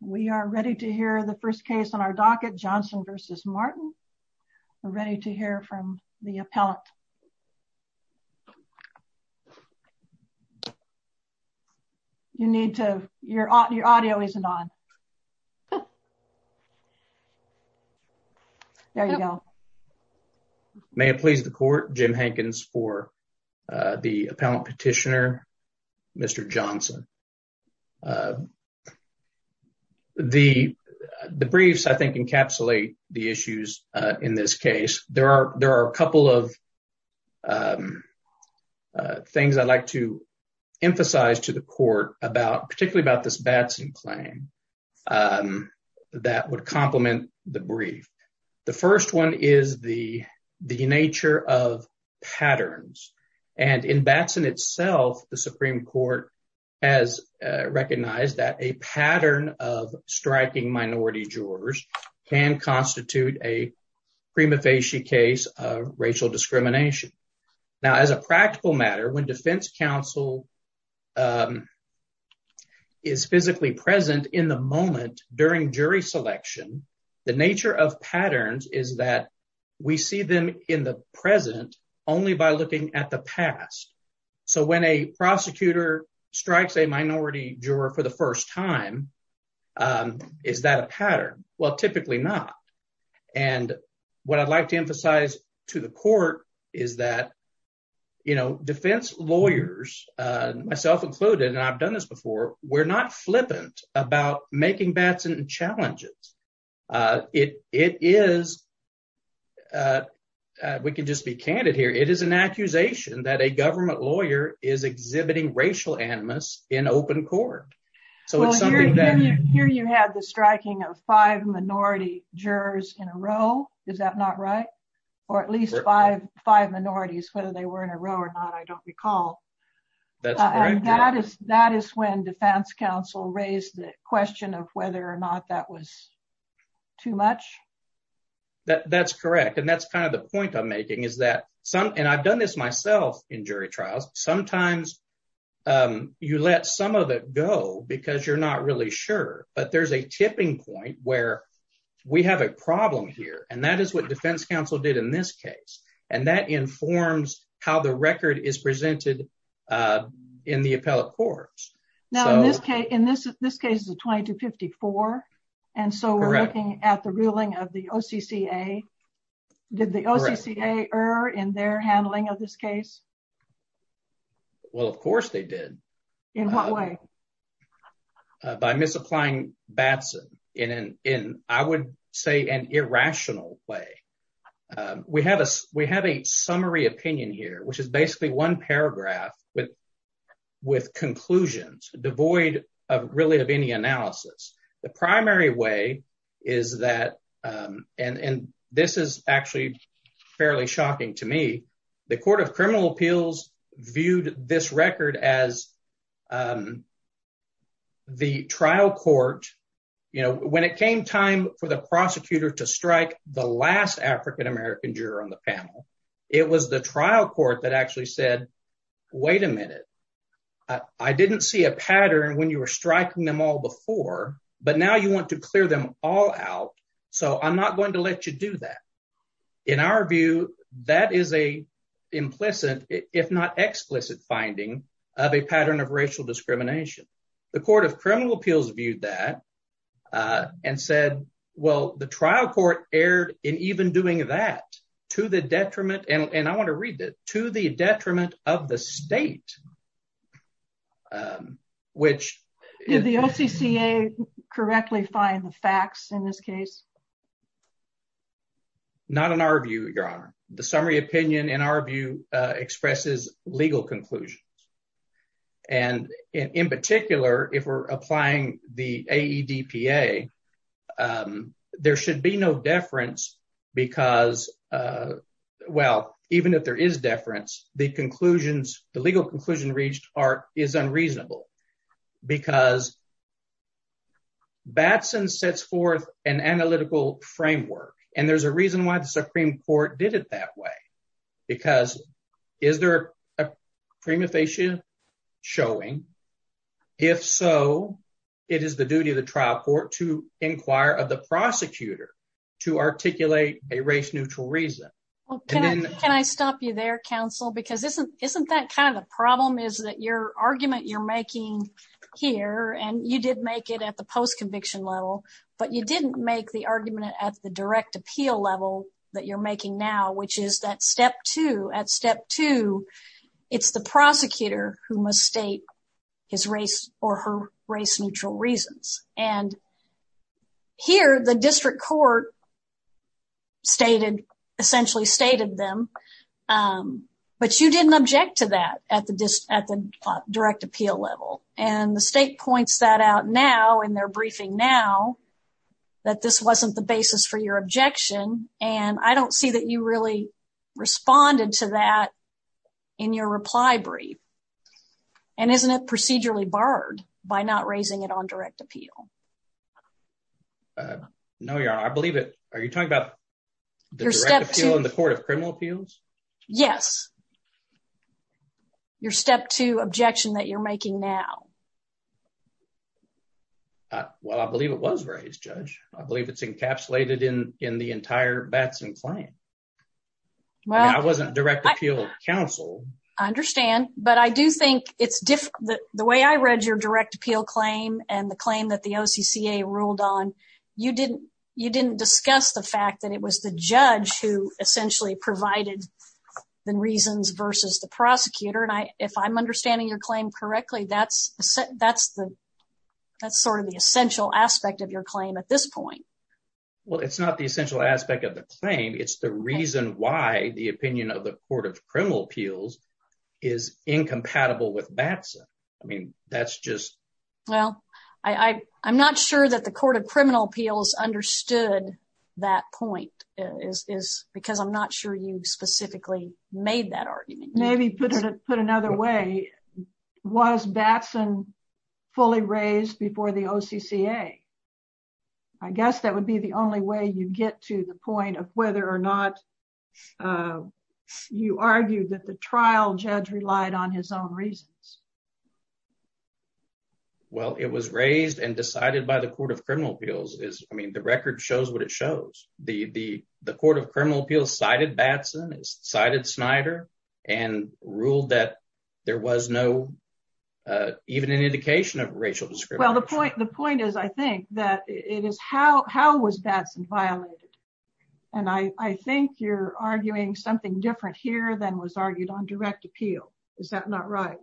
We are ready to hear the first case on our docket. Johnson versus Martin. We're ready to hear from the appellant. You need to, your audio isn't on. There you go. May it please the court, Jim Hankins for the appellant petitioner, Mr. Johnson. The briefs I think encapsulate the issues in this case. There are a couple of things I'd like to emphasize to the court about, particularly about this Batson claim that would complement the brief. The first one is the nature of patterns. And in Batson itself, the Supreme Court has recognized that a pattern of striking minority jurors can constitute a prima facie case of racial discrimination. Now, as a practical matter, when defense counsel is physically present in the moment during jury selection, the nature of patterns is that we see them in the present only by looking at the past. So when a prosecutor strikes a minority juror for the first time, is that a pattern? Well, typically not. And what I'd like to emphasize to the court is that defense lawyers, myself included, and I've done this before, we're not flippant about making Batson challenges. It is, we can just be candid here, it is an accusation that a government lawyer is exhibiting racial animus in open court. Here you have the striking of five minority jurors in a row, is that not right? Or at least five minorities, whether they were in a row or not, I don't recall. That is when defense counsel raised the question of whether or not that was too much. That's correct. And that's kind of the point I'm making is that, and I've done this myself in jury trials, sometimes you let some of it go because you're not really sure. But there's a and that informs how the record is presented in the appellate courts. Now, in this case, this case is a 2254. And so we're looking at the ruling of the OCCA. Did the OCCA err in their handling of this case? Well, of course they did. In what way? Well, by misapplying Batson in I would say an irrational way. We have a summary opinion here, which is basically one paragraph with conclusions devoid of really of any analysis. The primary way is that, and this is actually fairly shocking to me, the Court of Criminal Appeals viewed this the trial court, you know, when it came time for the prosecutor to strike the last African American juror on the panel, it was the trial court that actually said, wait a minute, I didn't see a pattern when you were striking them all before, but now you want to clear them all out. So I'm not going to let you do that. In our view, that is a implicit, if not explicit finding of a pattern of racial discrimination. The Court of Criminal Appeals viewed that and said, well, the trial court erred in even doing that to the detriment, and I want to read it, to the detriment of the state, which... Did the OCCA correctly find the facts in this case? Not in our view, Your Honor. The summary opinion in our view expresses legal conclusions. And in particular, if we're applying the AEDPA, there should be no deference because, well, even if there is deference, the conclusions, the legal conclusion reached is unreasonable because Batson sets forth an analytical framework, and there's a reason why the Supreme Court did it that way. Because is there a prima facie showing? If so, it is the duty of the trial court to inquire of the prosecutor to articulate a race-neutral reason. Can I stop you there, counsel? Because isn't that kind of the problem, is that your argument you're making here, and you did make it at the post-conviction level, but you didn't make the argument at the direct appeal level that you're making now, which is that step two, at step two, it's the prosecutor who must state his race or her race-neutral reasons. And here, the district court stated, essentially stated them, but you didn't object to that at the direct appeal level. And the state points that out now in their briefing now, that this wasn't the basis for your objection, and I don't see that you really responded to that in your reply brief. And isn't it procedurally barred by not raising it on direct appeal? No, Your Honor, I believe it, are you talking about the direct appeal in the well, I believe it was raised, Judge. I believe it's encapsulated in the entire Batson claim. Well, I wasn't direct appeal counsel. I understand, but I do think it's different, the way I read your direct appeal claim and the claim that the OCCA ruled on, you didn't, you didn't discuss the fact that it was the judge who essentially provided the reasons versus the prosecutor. And if I'm understanding your claim correctly, that's sort of the essential aspect of your claim at this point. Well, it's not the essential aspect of the claim. It's the reason why the opinion of the Court of Criminal Appeals is incompatible with Batson. I mean, that's just... Well, I'm not sure that the Court of Criminal Appeals understood that point because I'm not sure you specifically made that argument. Maybe put it, put another way, was Batson fully raised before the OCCA? I guess that would be the only way you get to the point of whether or not you argued that the trial judge relied on his own reasons. Well, it was raised and decided by the Court of Criminal Appeals is, I mean, the record shows what it shows. The Court of Criminal Appeals cited Batson, cited Snyder, and ruled that there was no, even an indication of racial discrimination. Well, the point is, I think, that it is how was Batson violated? And I think you're arguing something different here than was argued on direct appeal. Is that not right?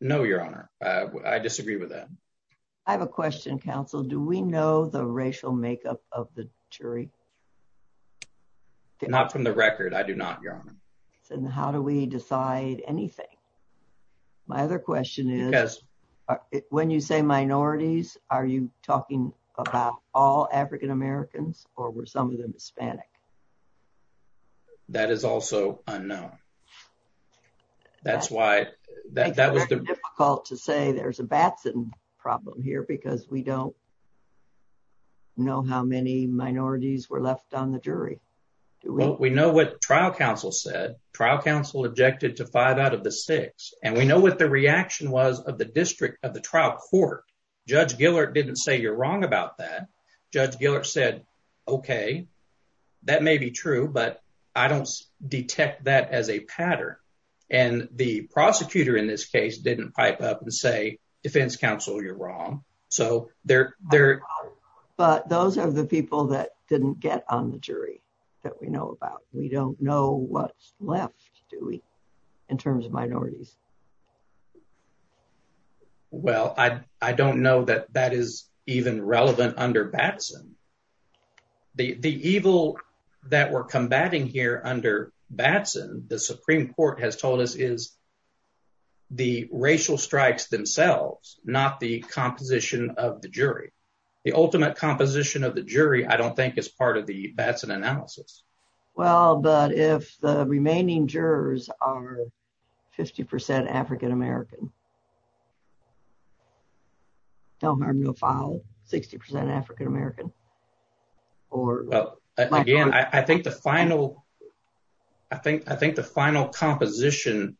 No, Your Honor. I disagree with that. I have a question, counsel. Do we know the racial makeup of the jury? Not from the record. I do not, Your Honor. And how do we decide anything? My other question is, when you say minorities, are you talking about all African Americans or were some of them Hispanic? That is also unknown. That's why... It's very difficult to say there's a Batson problem here because we don't know how many minorities were left on the jury. We know what trial counsel said. Trial counsel objected to five out of the six. And we know what the reaction was of the district of the trial court. Judge Gillert didn't say you're wrong about that. Judge Gillert said, okay, that may be true, but I don't detect that as a pattern. And the prosecutor in this case didn't pipe up and say, defense counsel, you're wrong. But those are the people that didn't get on the jury that we know about. We don't know what's left, do we, in terms of minorities? Well, I don't know that that is even relevant under Batson. The evil that we're combating here under Batson, the Supreme Court has told us is the racial strikes themselves, not the composition of the jury. The ultimate composition of the jury, I don't think is part of the Batson analysis. Well, but if the remaining jurors are 50% African-American, 60% African-American. Well, again, I think the final composition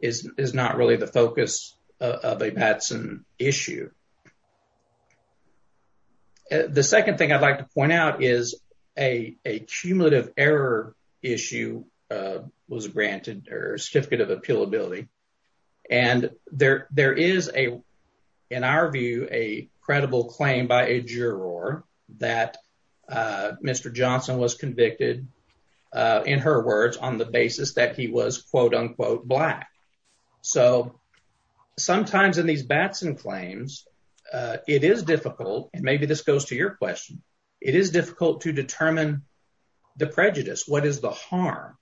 is not really the focus of a Batson issue. The second thing I'd like to point out is a cumulative error issue was granted, or certificate of appealability. And there is, in our view, a credible claim by a juror that Mr. Johnson was convicted, in her words, on the basis that he was, quote, unquote, black. So sometimes in these Batson claims, it is difficult, and maybe this goes to your question, it is difficult to determine the prejudice, what is the harm,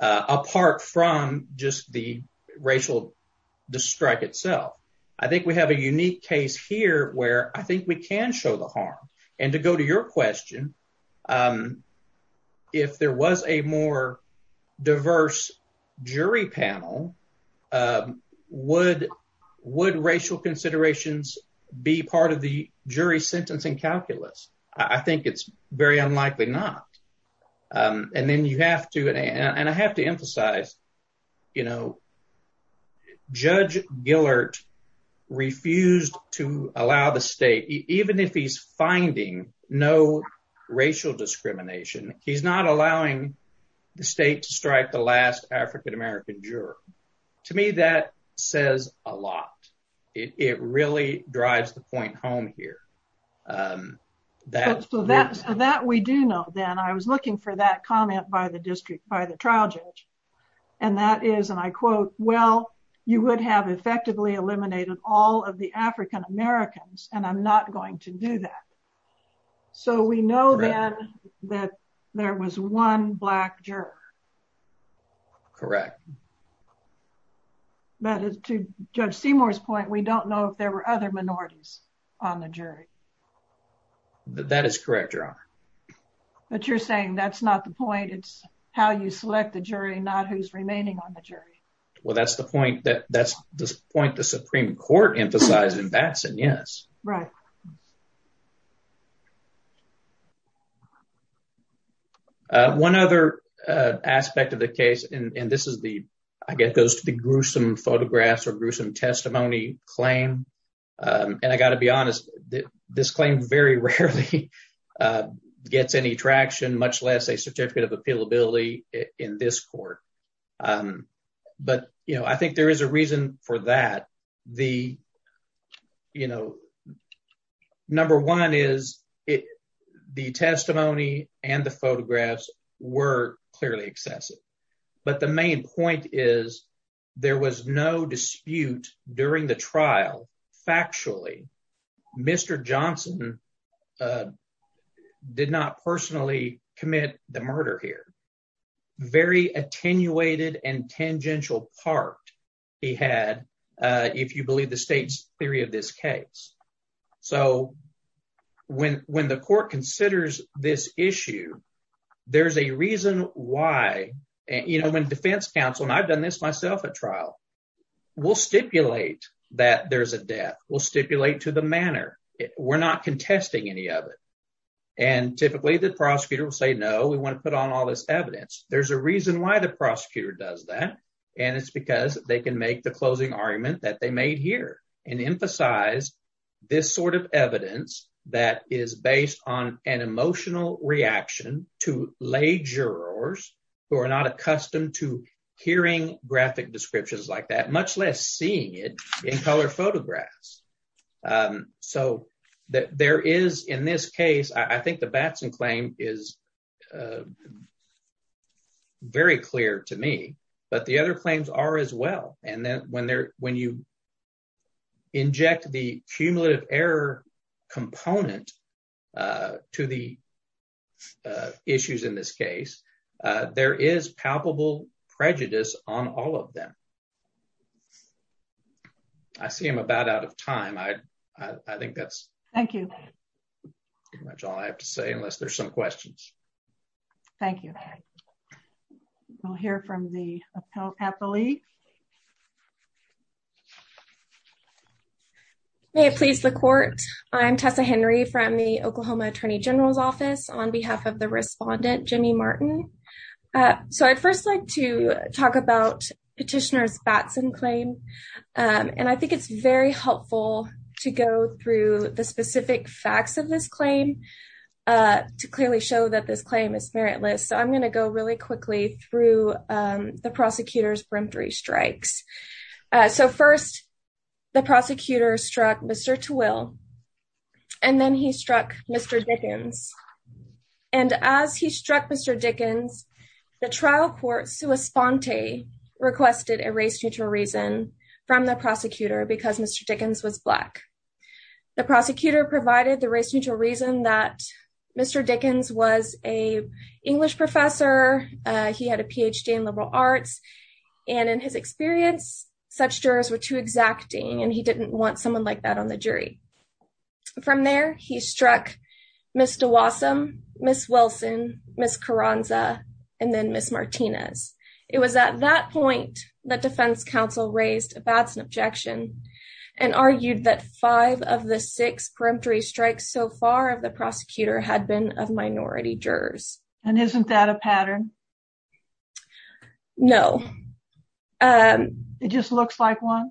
apart from just the racial strike itself. I think we have a unique case here where I think we can show the harm. And to go to your question, if there was a more diverse jury panel, would racial considerations be part of the jury sentencing calculus? I think it's very unlikely not. And then you have to, and I have to emphasize, you know, Judge Gillert refused to allow the state, even if he's finding no racial discrimination, he's not allowing the state to strike the last African American juror. To me, that says a lot. It really drives the point home here. So that we do know, then I was looking for that comment by the district by the trial judge. And that is, and I quote, well, you would have effectively eliminated all of the African Americans, and I'm not going to do that. So we know that there was one black juror. Correct. But to Judge Seymour's point, we don't know if there were other minorities on the jury. That is correct, Your Honor. But you're saying that's not the point. It's how you select the jury, not who's remaining on the jury. Well, that's the point that that's the point the Supreme Court emphasized in Batson, yes. Right. One other aspect of the case, and this is the, I guess, goes to the gruesome photographs or gruesome testimony claim. And I got to be honest, this claim very rarely gets any traction, much less a certificate of appealability in this court. But, you know, I think there is a reason for that. The, you know, number one is the testimony and the photographs were clearly excessive. But the main point is, there was no dispute during the trial. Factually, Mr. Johnson did not personally commit the murder here. Very attenuated and tangential part he had, if you believe the state's theory of this case. So when the court considers this issue, there's a reason why, you know, when Defense Counsel, and I've done this myself at trial, will stipulate that there's a death will stipulate to the manner. We're not contesting any of it. And typically, the prosecutor will say, No, we want to put on all this evidence. There's a reason why the prosecutor does that. And it's because they can make the closing argument that they made here and emphasize this sort of evidence that is based on an emotional reaction to lay who are not accustomed to hearing graphic descriptions like that, much less seeing it in color photographs. So that there is in this case, I think the Batson claim is very clear to me, but the other claims are as well. And then when they're when you component to the issues in this case, there is palpable prejudice on all of them. I see him about out of time. I think that's thank you. Pretty much all I have to say unless there's some questions. Thank you. We'll hear from the appellee. May it please the court. I'm Tessa Henry from the Oklahoma Attorney General's Office on behalf of the respondent Jimmy Martin. So I'd first like to talk about petitioners Batson claim. And I think it's very helpful to go through the specific facts of this claim to clearly show that this claim is meritless. So I'm going to go really quickly through the prosecutor's brimfold. And I'm going to go through the three strikes. So first, the prosecutor struck Mr. Twill. And then he struck Mr. Dickens. And as he struck Mr. Dickens, the trial court sua sponte requested a race neutral reason from the prosecutor because Mr. Dickens was black. The prosecutor provided the race neutral reason that Mr. Dickens was a English professor. He had a PhD in liberal arts. And in his experience, such jurors were too exacting and he didn't want someone like that on the jury. From there, he struck Mr. Wassam, Ms. Wilson, Ms. Carranza, and then Ms. Martinez. It was at that point that defense counsel raised a Batson objection and argued that five of the six peremptory strikes so far of the prosecutor had been of minority jurors. And isn't that a big deal? It just looks like one.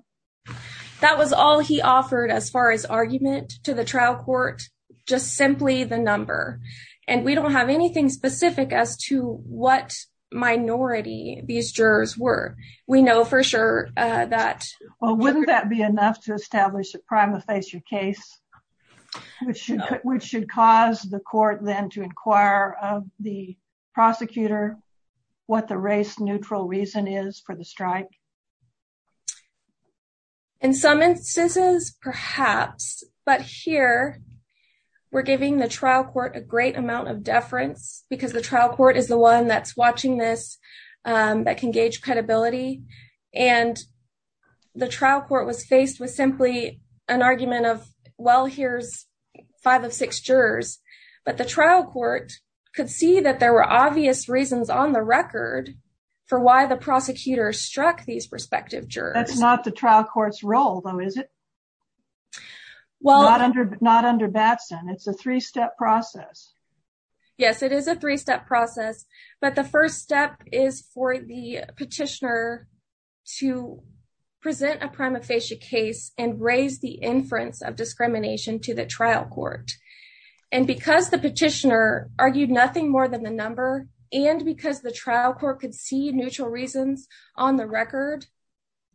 That was all he offered as far as argument to the trial court, just simply the number. And we don't have anything specific as to what minority these jurors were. We know for sure that... Well, wouldn't that be enough to establish a prima facie case, which should cause the court then to inquire of the prosecutor what the race neutral reason is for the strike? In some instances, perhaps. But here, we're giving the trial court a great amount of deference because the trial court is the one that's watching this, that can gauge credibility. And the trial court was faced with simply an argument of, well, here's five of six jurors. But the trial court could see that there were obvious reasons on the record for why the prosecutor struck these prospective jurors. That's not the trial court's role, though, is it? Not under Batson. It's a three-step process. Yes, it is a three-step process. But the first step is for the petitioner to present a prima facie case and raise the inference of discrimination to the trial court. And because the petitioner argued nothing more than the number, and because the trial court could see neutral reasons on the record,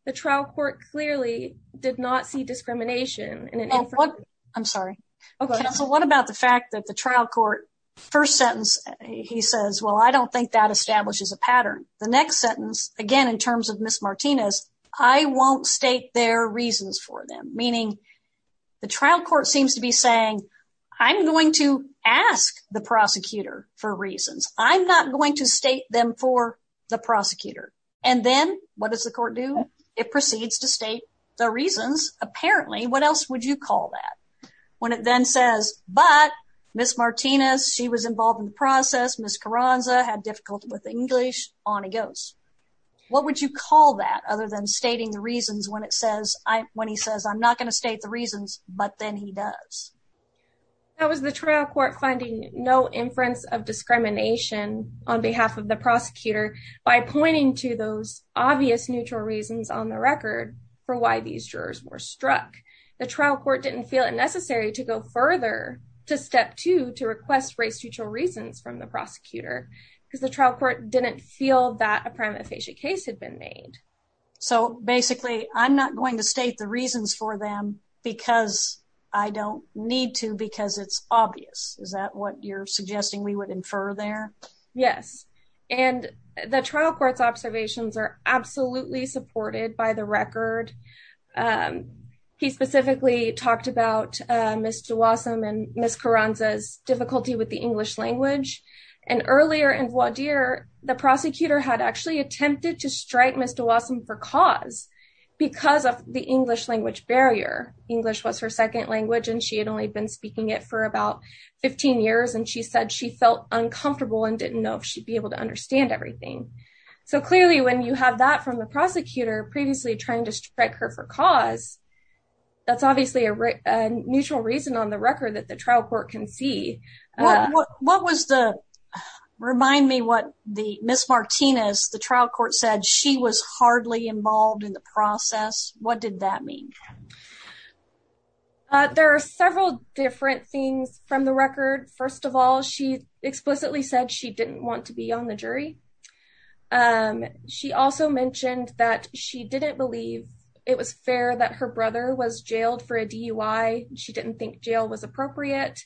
the trial court clearly did not see discrimination in an inference. I'm sorry. Okay. So what about the fact that the trial court, first sentence, he says, well, I don't think that establishes a pattern. The next sentence, again, in terms of Ms. Martinez, I won't state their reasons for them. Meaning, the trial court seems to be saying, I'm going to ask the prosecutor for reasons. I'm not going to state them for the prosecutor. And then what does the court do? It proceeds to state the reasons, apparently. What else would you call that? When it then says, but Ms. Martinez, she was involved in the process. Ms. Carranza had difficulty with English. On it goes. What would you call that, other than stating the reasons when he says, I'm not going to state the reasons, but then he does? That was the trial court finding no inference of discrimination on behalf of the prosecutor by pointing to those obvious neutral reasons on the record for why these jurors were struck. The trial court didn't feel it necessary to go further to step two to request race-neutral reasons from the prosecutor because the trial court didn't feel that a prima facie case had been made. So basically, I'm not going to state the reasons for them because I don't need to, because it's obvious. Is that what you're suggesting we would infer there? Yes. And the trial court's observations are absolutely supported by the record. He specifically talked about Ms. DeWassam and Ms. Carranza's difficulty with the English language. And earlier in voir dire, the prosecutor had actually attempted to strike Ms. DeWassam for cause because of the English language barrier. English was her second language and she had only been speaking it for about 15 years. And she said she felt uncomfortable and didn't know if she'd be able to understand everything. So clearly when you have that from the prosecutor previously trying to strike her for cause, that's obviously a neutral reason on the record that the trial court can see. What was the, remind me what the Ms. Martinez, the trial court said, she was hardly involved in the process. What did that mean? There are several different things from the record. First of all, she explicitly said she didn't want to be on the jury. She also mentioned that she didn't believe it was fair that her brother was jailed for a DUI. She didn't think jail was appropriate.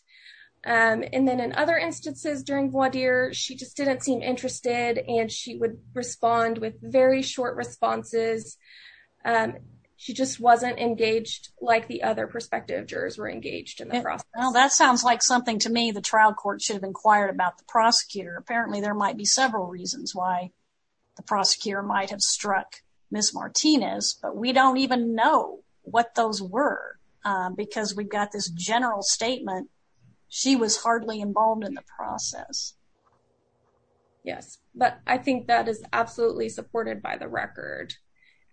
And then in other instances during voir dire, she just didn't seem interested and she would respond with very short responses. She just wasn't engaged like the other prospective jurors were engaged in the process. Well, that sounds like something to me the trial court should have inquired about the prosecutor. Apparently there might be several reasons why the prosecutor might have struck Ms. Martinez, but we don't even know what those were because we've got this general statement. She was hardly involved in the process. Yes, but I think that is absolutely supported by the record.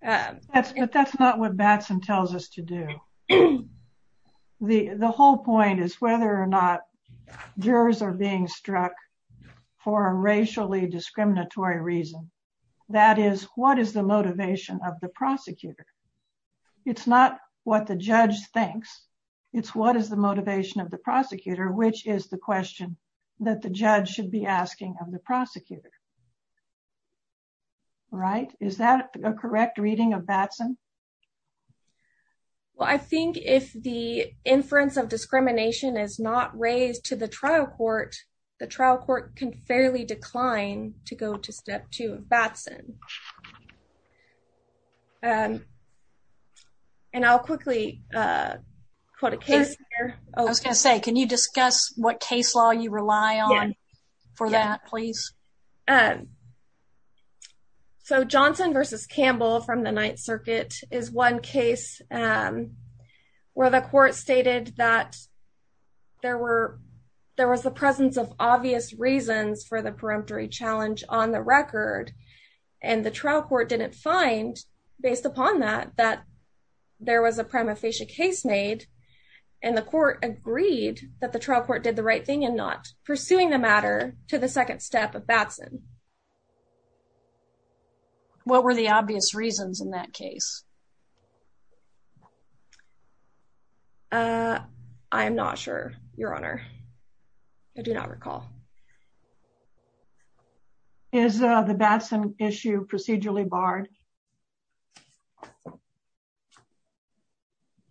But that's not what Batson tells us to do. The whole point is whether or not jurors are being struck for a racially discriminatory reason. That is, what is the motivation of the prosecutor? It's not what the judge thinks. It's what is the motivation of the prosecutor, which is the question that the judge should be asking of the prosecutor. Right? Is that a correct reading of Batson? Well, I think if the inference of discrimination is not raised to the trial court, the trial court can fairly decline to go to step two of Batson. And I'll quickly quote a case. I was going to say, can you discuss what case law you rely on for that, please? So, Johnson versus Campbell from the Ninth Circuit is one case where the court stated that there was the presence of obvious reasons for the preemptory challenge on the record. And the trial court didn't find, based upon that, that there was a prima facie case made. And the court agreed that the trial court did the right thing and not pursuing the matter to the second step of Batson. What were the obvious reasons in that case? I'm not sure, Your Honor. I do not recall. Is the Batson issue procedurally barred?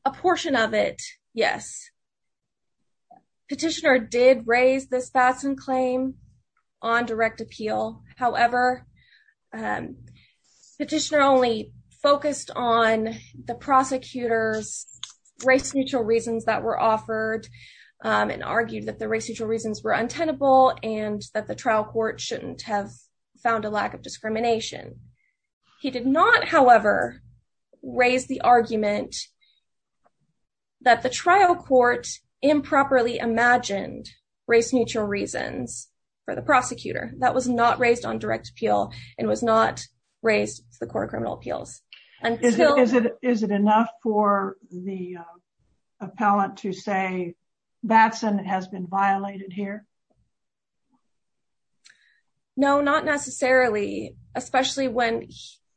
A portion of it, yes. Petitioner did raise this Batson claim on direct appeal. However, petitioner only focused on the prosecutor's race-neutral reasons that were offered and argued that the race-neutral reasons were untenable and that the trial court shouldn't have found a lack of discrimination. He did not, however, raise the argument that the trial court improperly imagined race-neutral reasons for the prosecutor. That was not raised on direct appeal and was not raised to the Court of Criminal Appeals. Is it enough for the appellant to say Batson has been violated here? No, not necessarily, especially when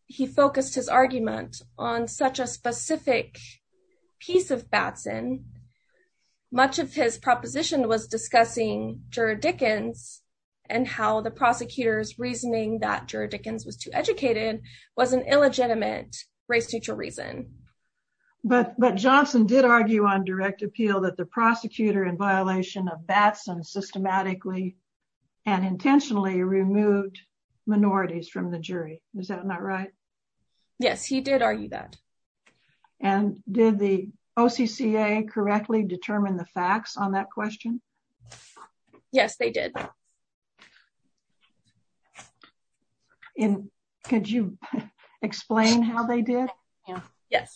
he focused his argument on such a specific piece of Batson. Much of his proposition was discussing juror Dickens and how the prosecutor's race-neutral reasons were illegitimate. But Johnson did argue on direct appeal that the prosecutor in violation of Batson systematically and intentionally removed minorities from the jury. Is that not right? Yes, he did argue that. Did the OCCA correctly determine the facts on how they did? Yes.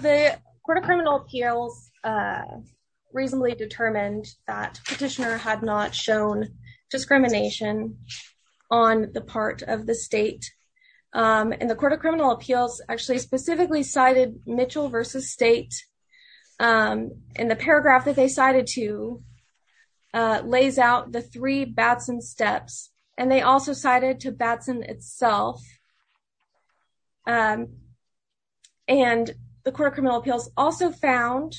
The Court of Criminal Appeals reasonably determined that petitioner had not shown discrimination on the part of the state. The Court of Criminal Appeals specifically cited Mitchell v. State. The paragraph that they cited lays out the three Batson steps. They also cited to Batson itself. The Court of Criminal Appeals also found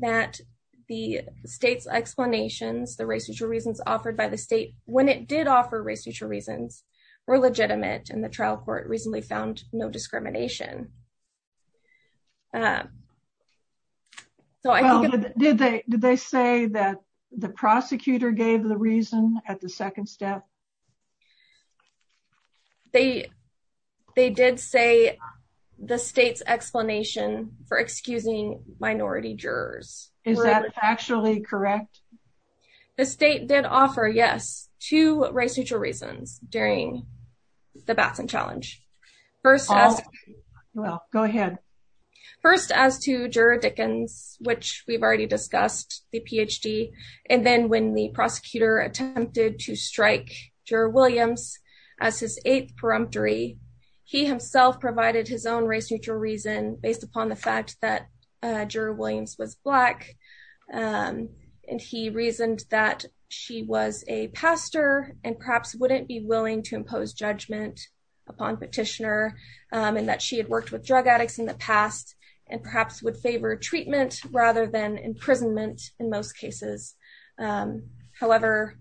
that the state's explanations, the race-neutral reasons offered by the state when it did offer race-neutral reasons were legitimate. The trial court reasonably found no discrimination. Did they say that the prosecutor gave the reason at the second step? They did say the state's explanation for excusing minority jurors. Is that factually correct? The state did offer, yes, two race-neutral reasons during the Batson challenge. First, well, go ahead. First, as to Juror Dickens, which we've already discussed, the PhD, and then when the prosecutor attempted to strike Juror Williams as his eighth preemptory, he himself provided his own race-neutral reason based upon the fact that Juror Williams was Black and he reasoned that she was a pastor and perhaps wouldn't be willing to impose judgment upon petitioner and that she had worked with drug addicts in the past and perhaps would favor treatment rather than imprisonment in most cases. However,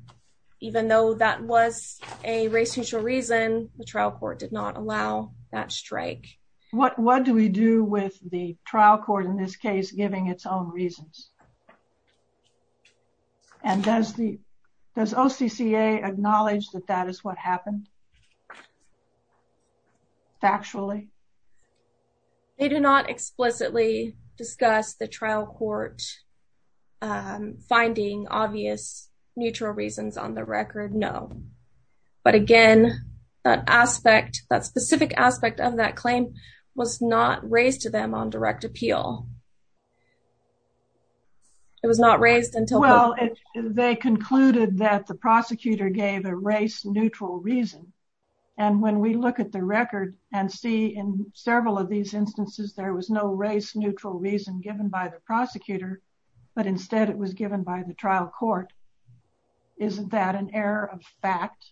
even though that was a race-neutral reason, the trial court did not allow that strike. What do we do with the trial court in this case giving its own reasons? And does the, does OCCA acknowledge that that is what happened? Factually? They do not explicitly discuss the trial court finding obvious neutral reasons on the record, no. But again, that aspect, that specific aspect of that claim was not raised to them on direct appeal. It was not raised until... Well, they concluded that the prosecutor gave a race-neutral reason. And when we look at the record and see in several of these instances, there was no race-neutral reason given by the prosecutor, but instead it was given by the trial court. Isn't that an error of fact?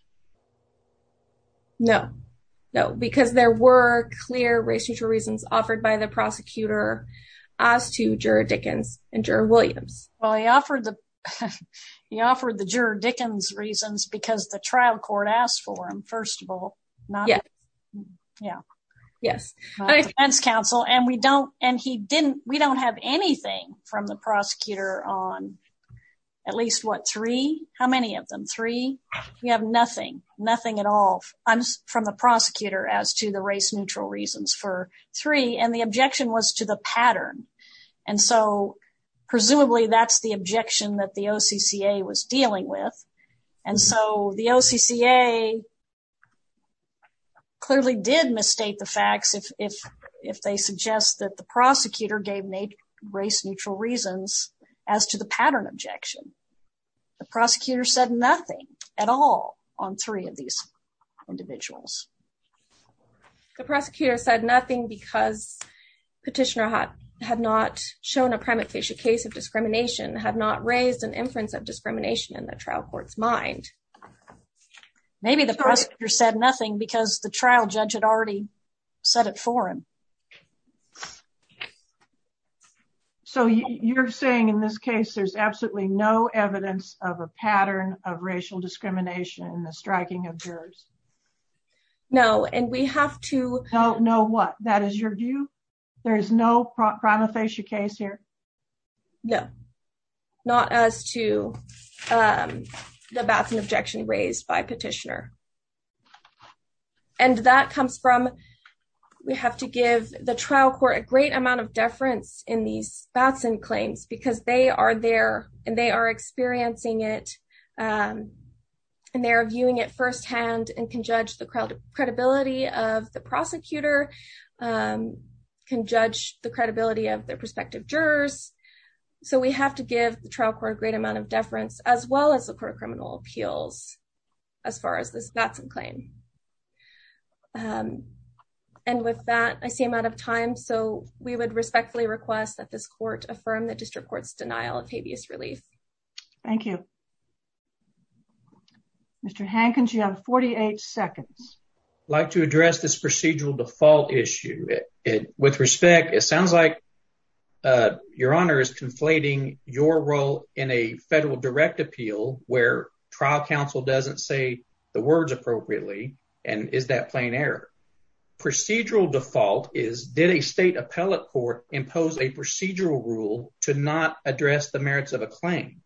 No, no, because there were clear race-neutral reasons offered by the prosecutor as to juror Dickens and juror Williams. Well, he offered the, he offered the juror Dickens reasons because the trial court asked for them, first of all. Yeah. Yeah. Yes. Defense counsel, and we don't, and he didn't, we don't have anything from the prosecutor on at least what, three? How many of them? Three? We have nothing, nothing at all from the prosecutor as to the race-neutral reasons for three, and the objection was to the pattern. And so presumably that's the objection that the OCCA was dealing with. And so the OCCA clearly did misstate the facts if, if, if they suggest that the prosecutor gave race-neutral reasons as to the pattern objection. The prosecutor said nothing at all on three of these individuals. The prosecutor said nothing because petitioner had not shown a prima facie case of discrimination, had not raised an inference of discrimination in the trial court's mind. Maybe the prosecutor said nothing because the trial judge had already said it for him. Okay. So you're saying in this case, there's absolutely no evidence of a pattern of racial discrimination in the striking of jurors. No. And we have to know what that is your view. There is no prima facie case here. No, not as to the bath and objection raised by petitioner. And that comes from, we have to give the trial court a great amount of deference in these bats and claims because they are there and they are experiencing it. And they're viewing it firsthand and can judge the credibility of the prosecutor, can judge the credibility of their prospective jurors. So we have to give the trial court a great amount of deference as well as the court of criminal appeals as far as this bats and claim. Um, and with that, I see I'm out of time. So we would respectfully request that this court affirm the district court's denial of habeas relief. Thank you, Mr. Hankins. You have 48 seconds. Like to address this procedural default issue with respect. It sounds like, uh, your honor is conflating your role in a federal direct appeal where trial counsel doesn't say the words appropriately. And is that plain error? Procedural default is did a state appellate court impose a procedural rule to not address the merits of a claim?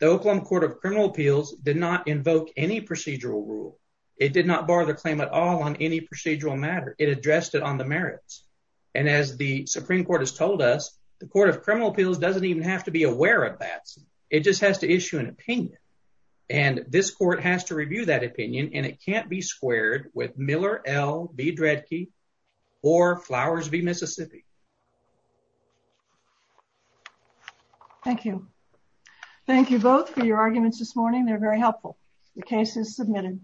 The Oklahoma court of criminal appeals did not invoke any procedural rule. It did not borrow the claim at all on any procedural matter. It addressed it on the merits. And as the Supreme court has told us, the court of criminal appeals doesn't even have to be aware of that. It just has to issue an opinion, and this court has to review that opinion, and it can't be squared with Miller L. B. Dredke or Flowers v Mississippi. Thank you. Thank you both for your arguments this morning. They're very helpful. The case is submitted.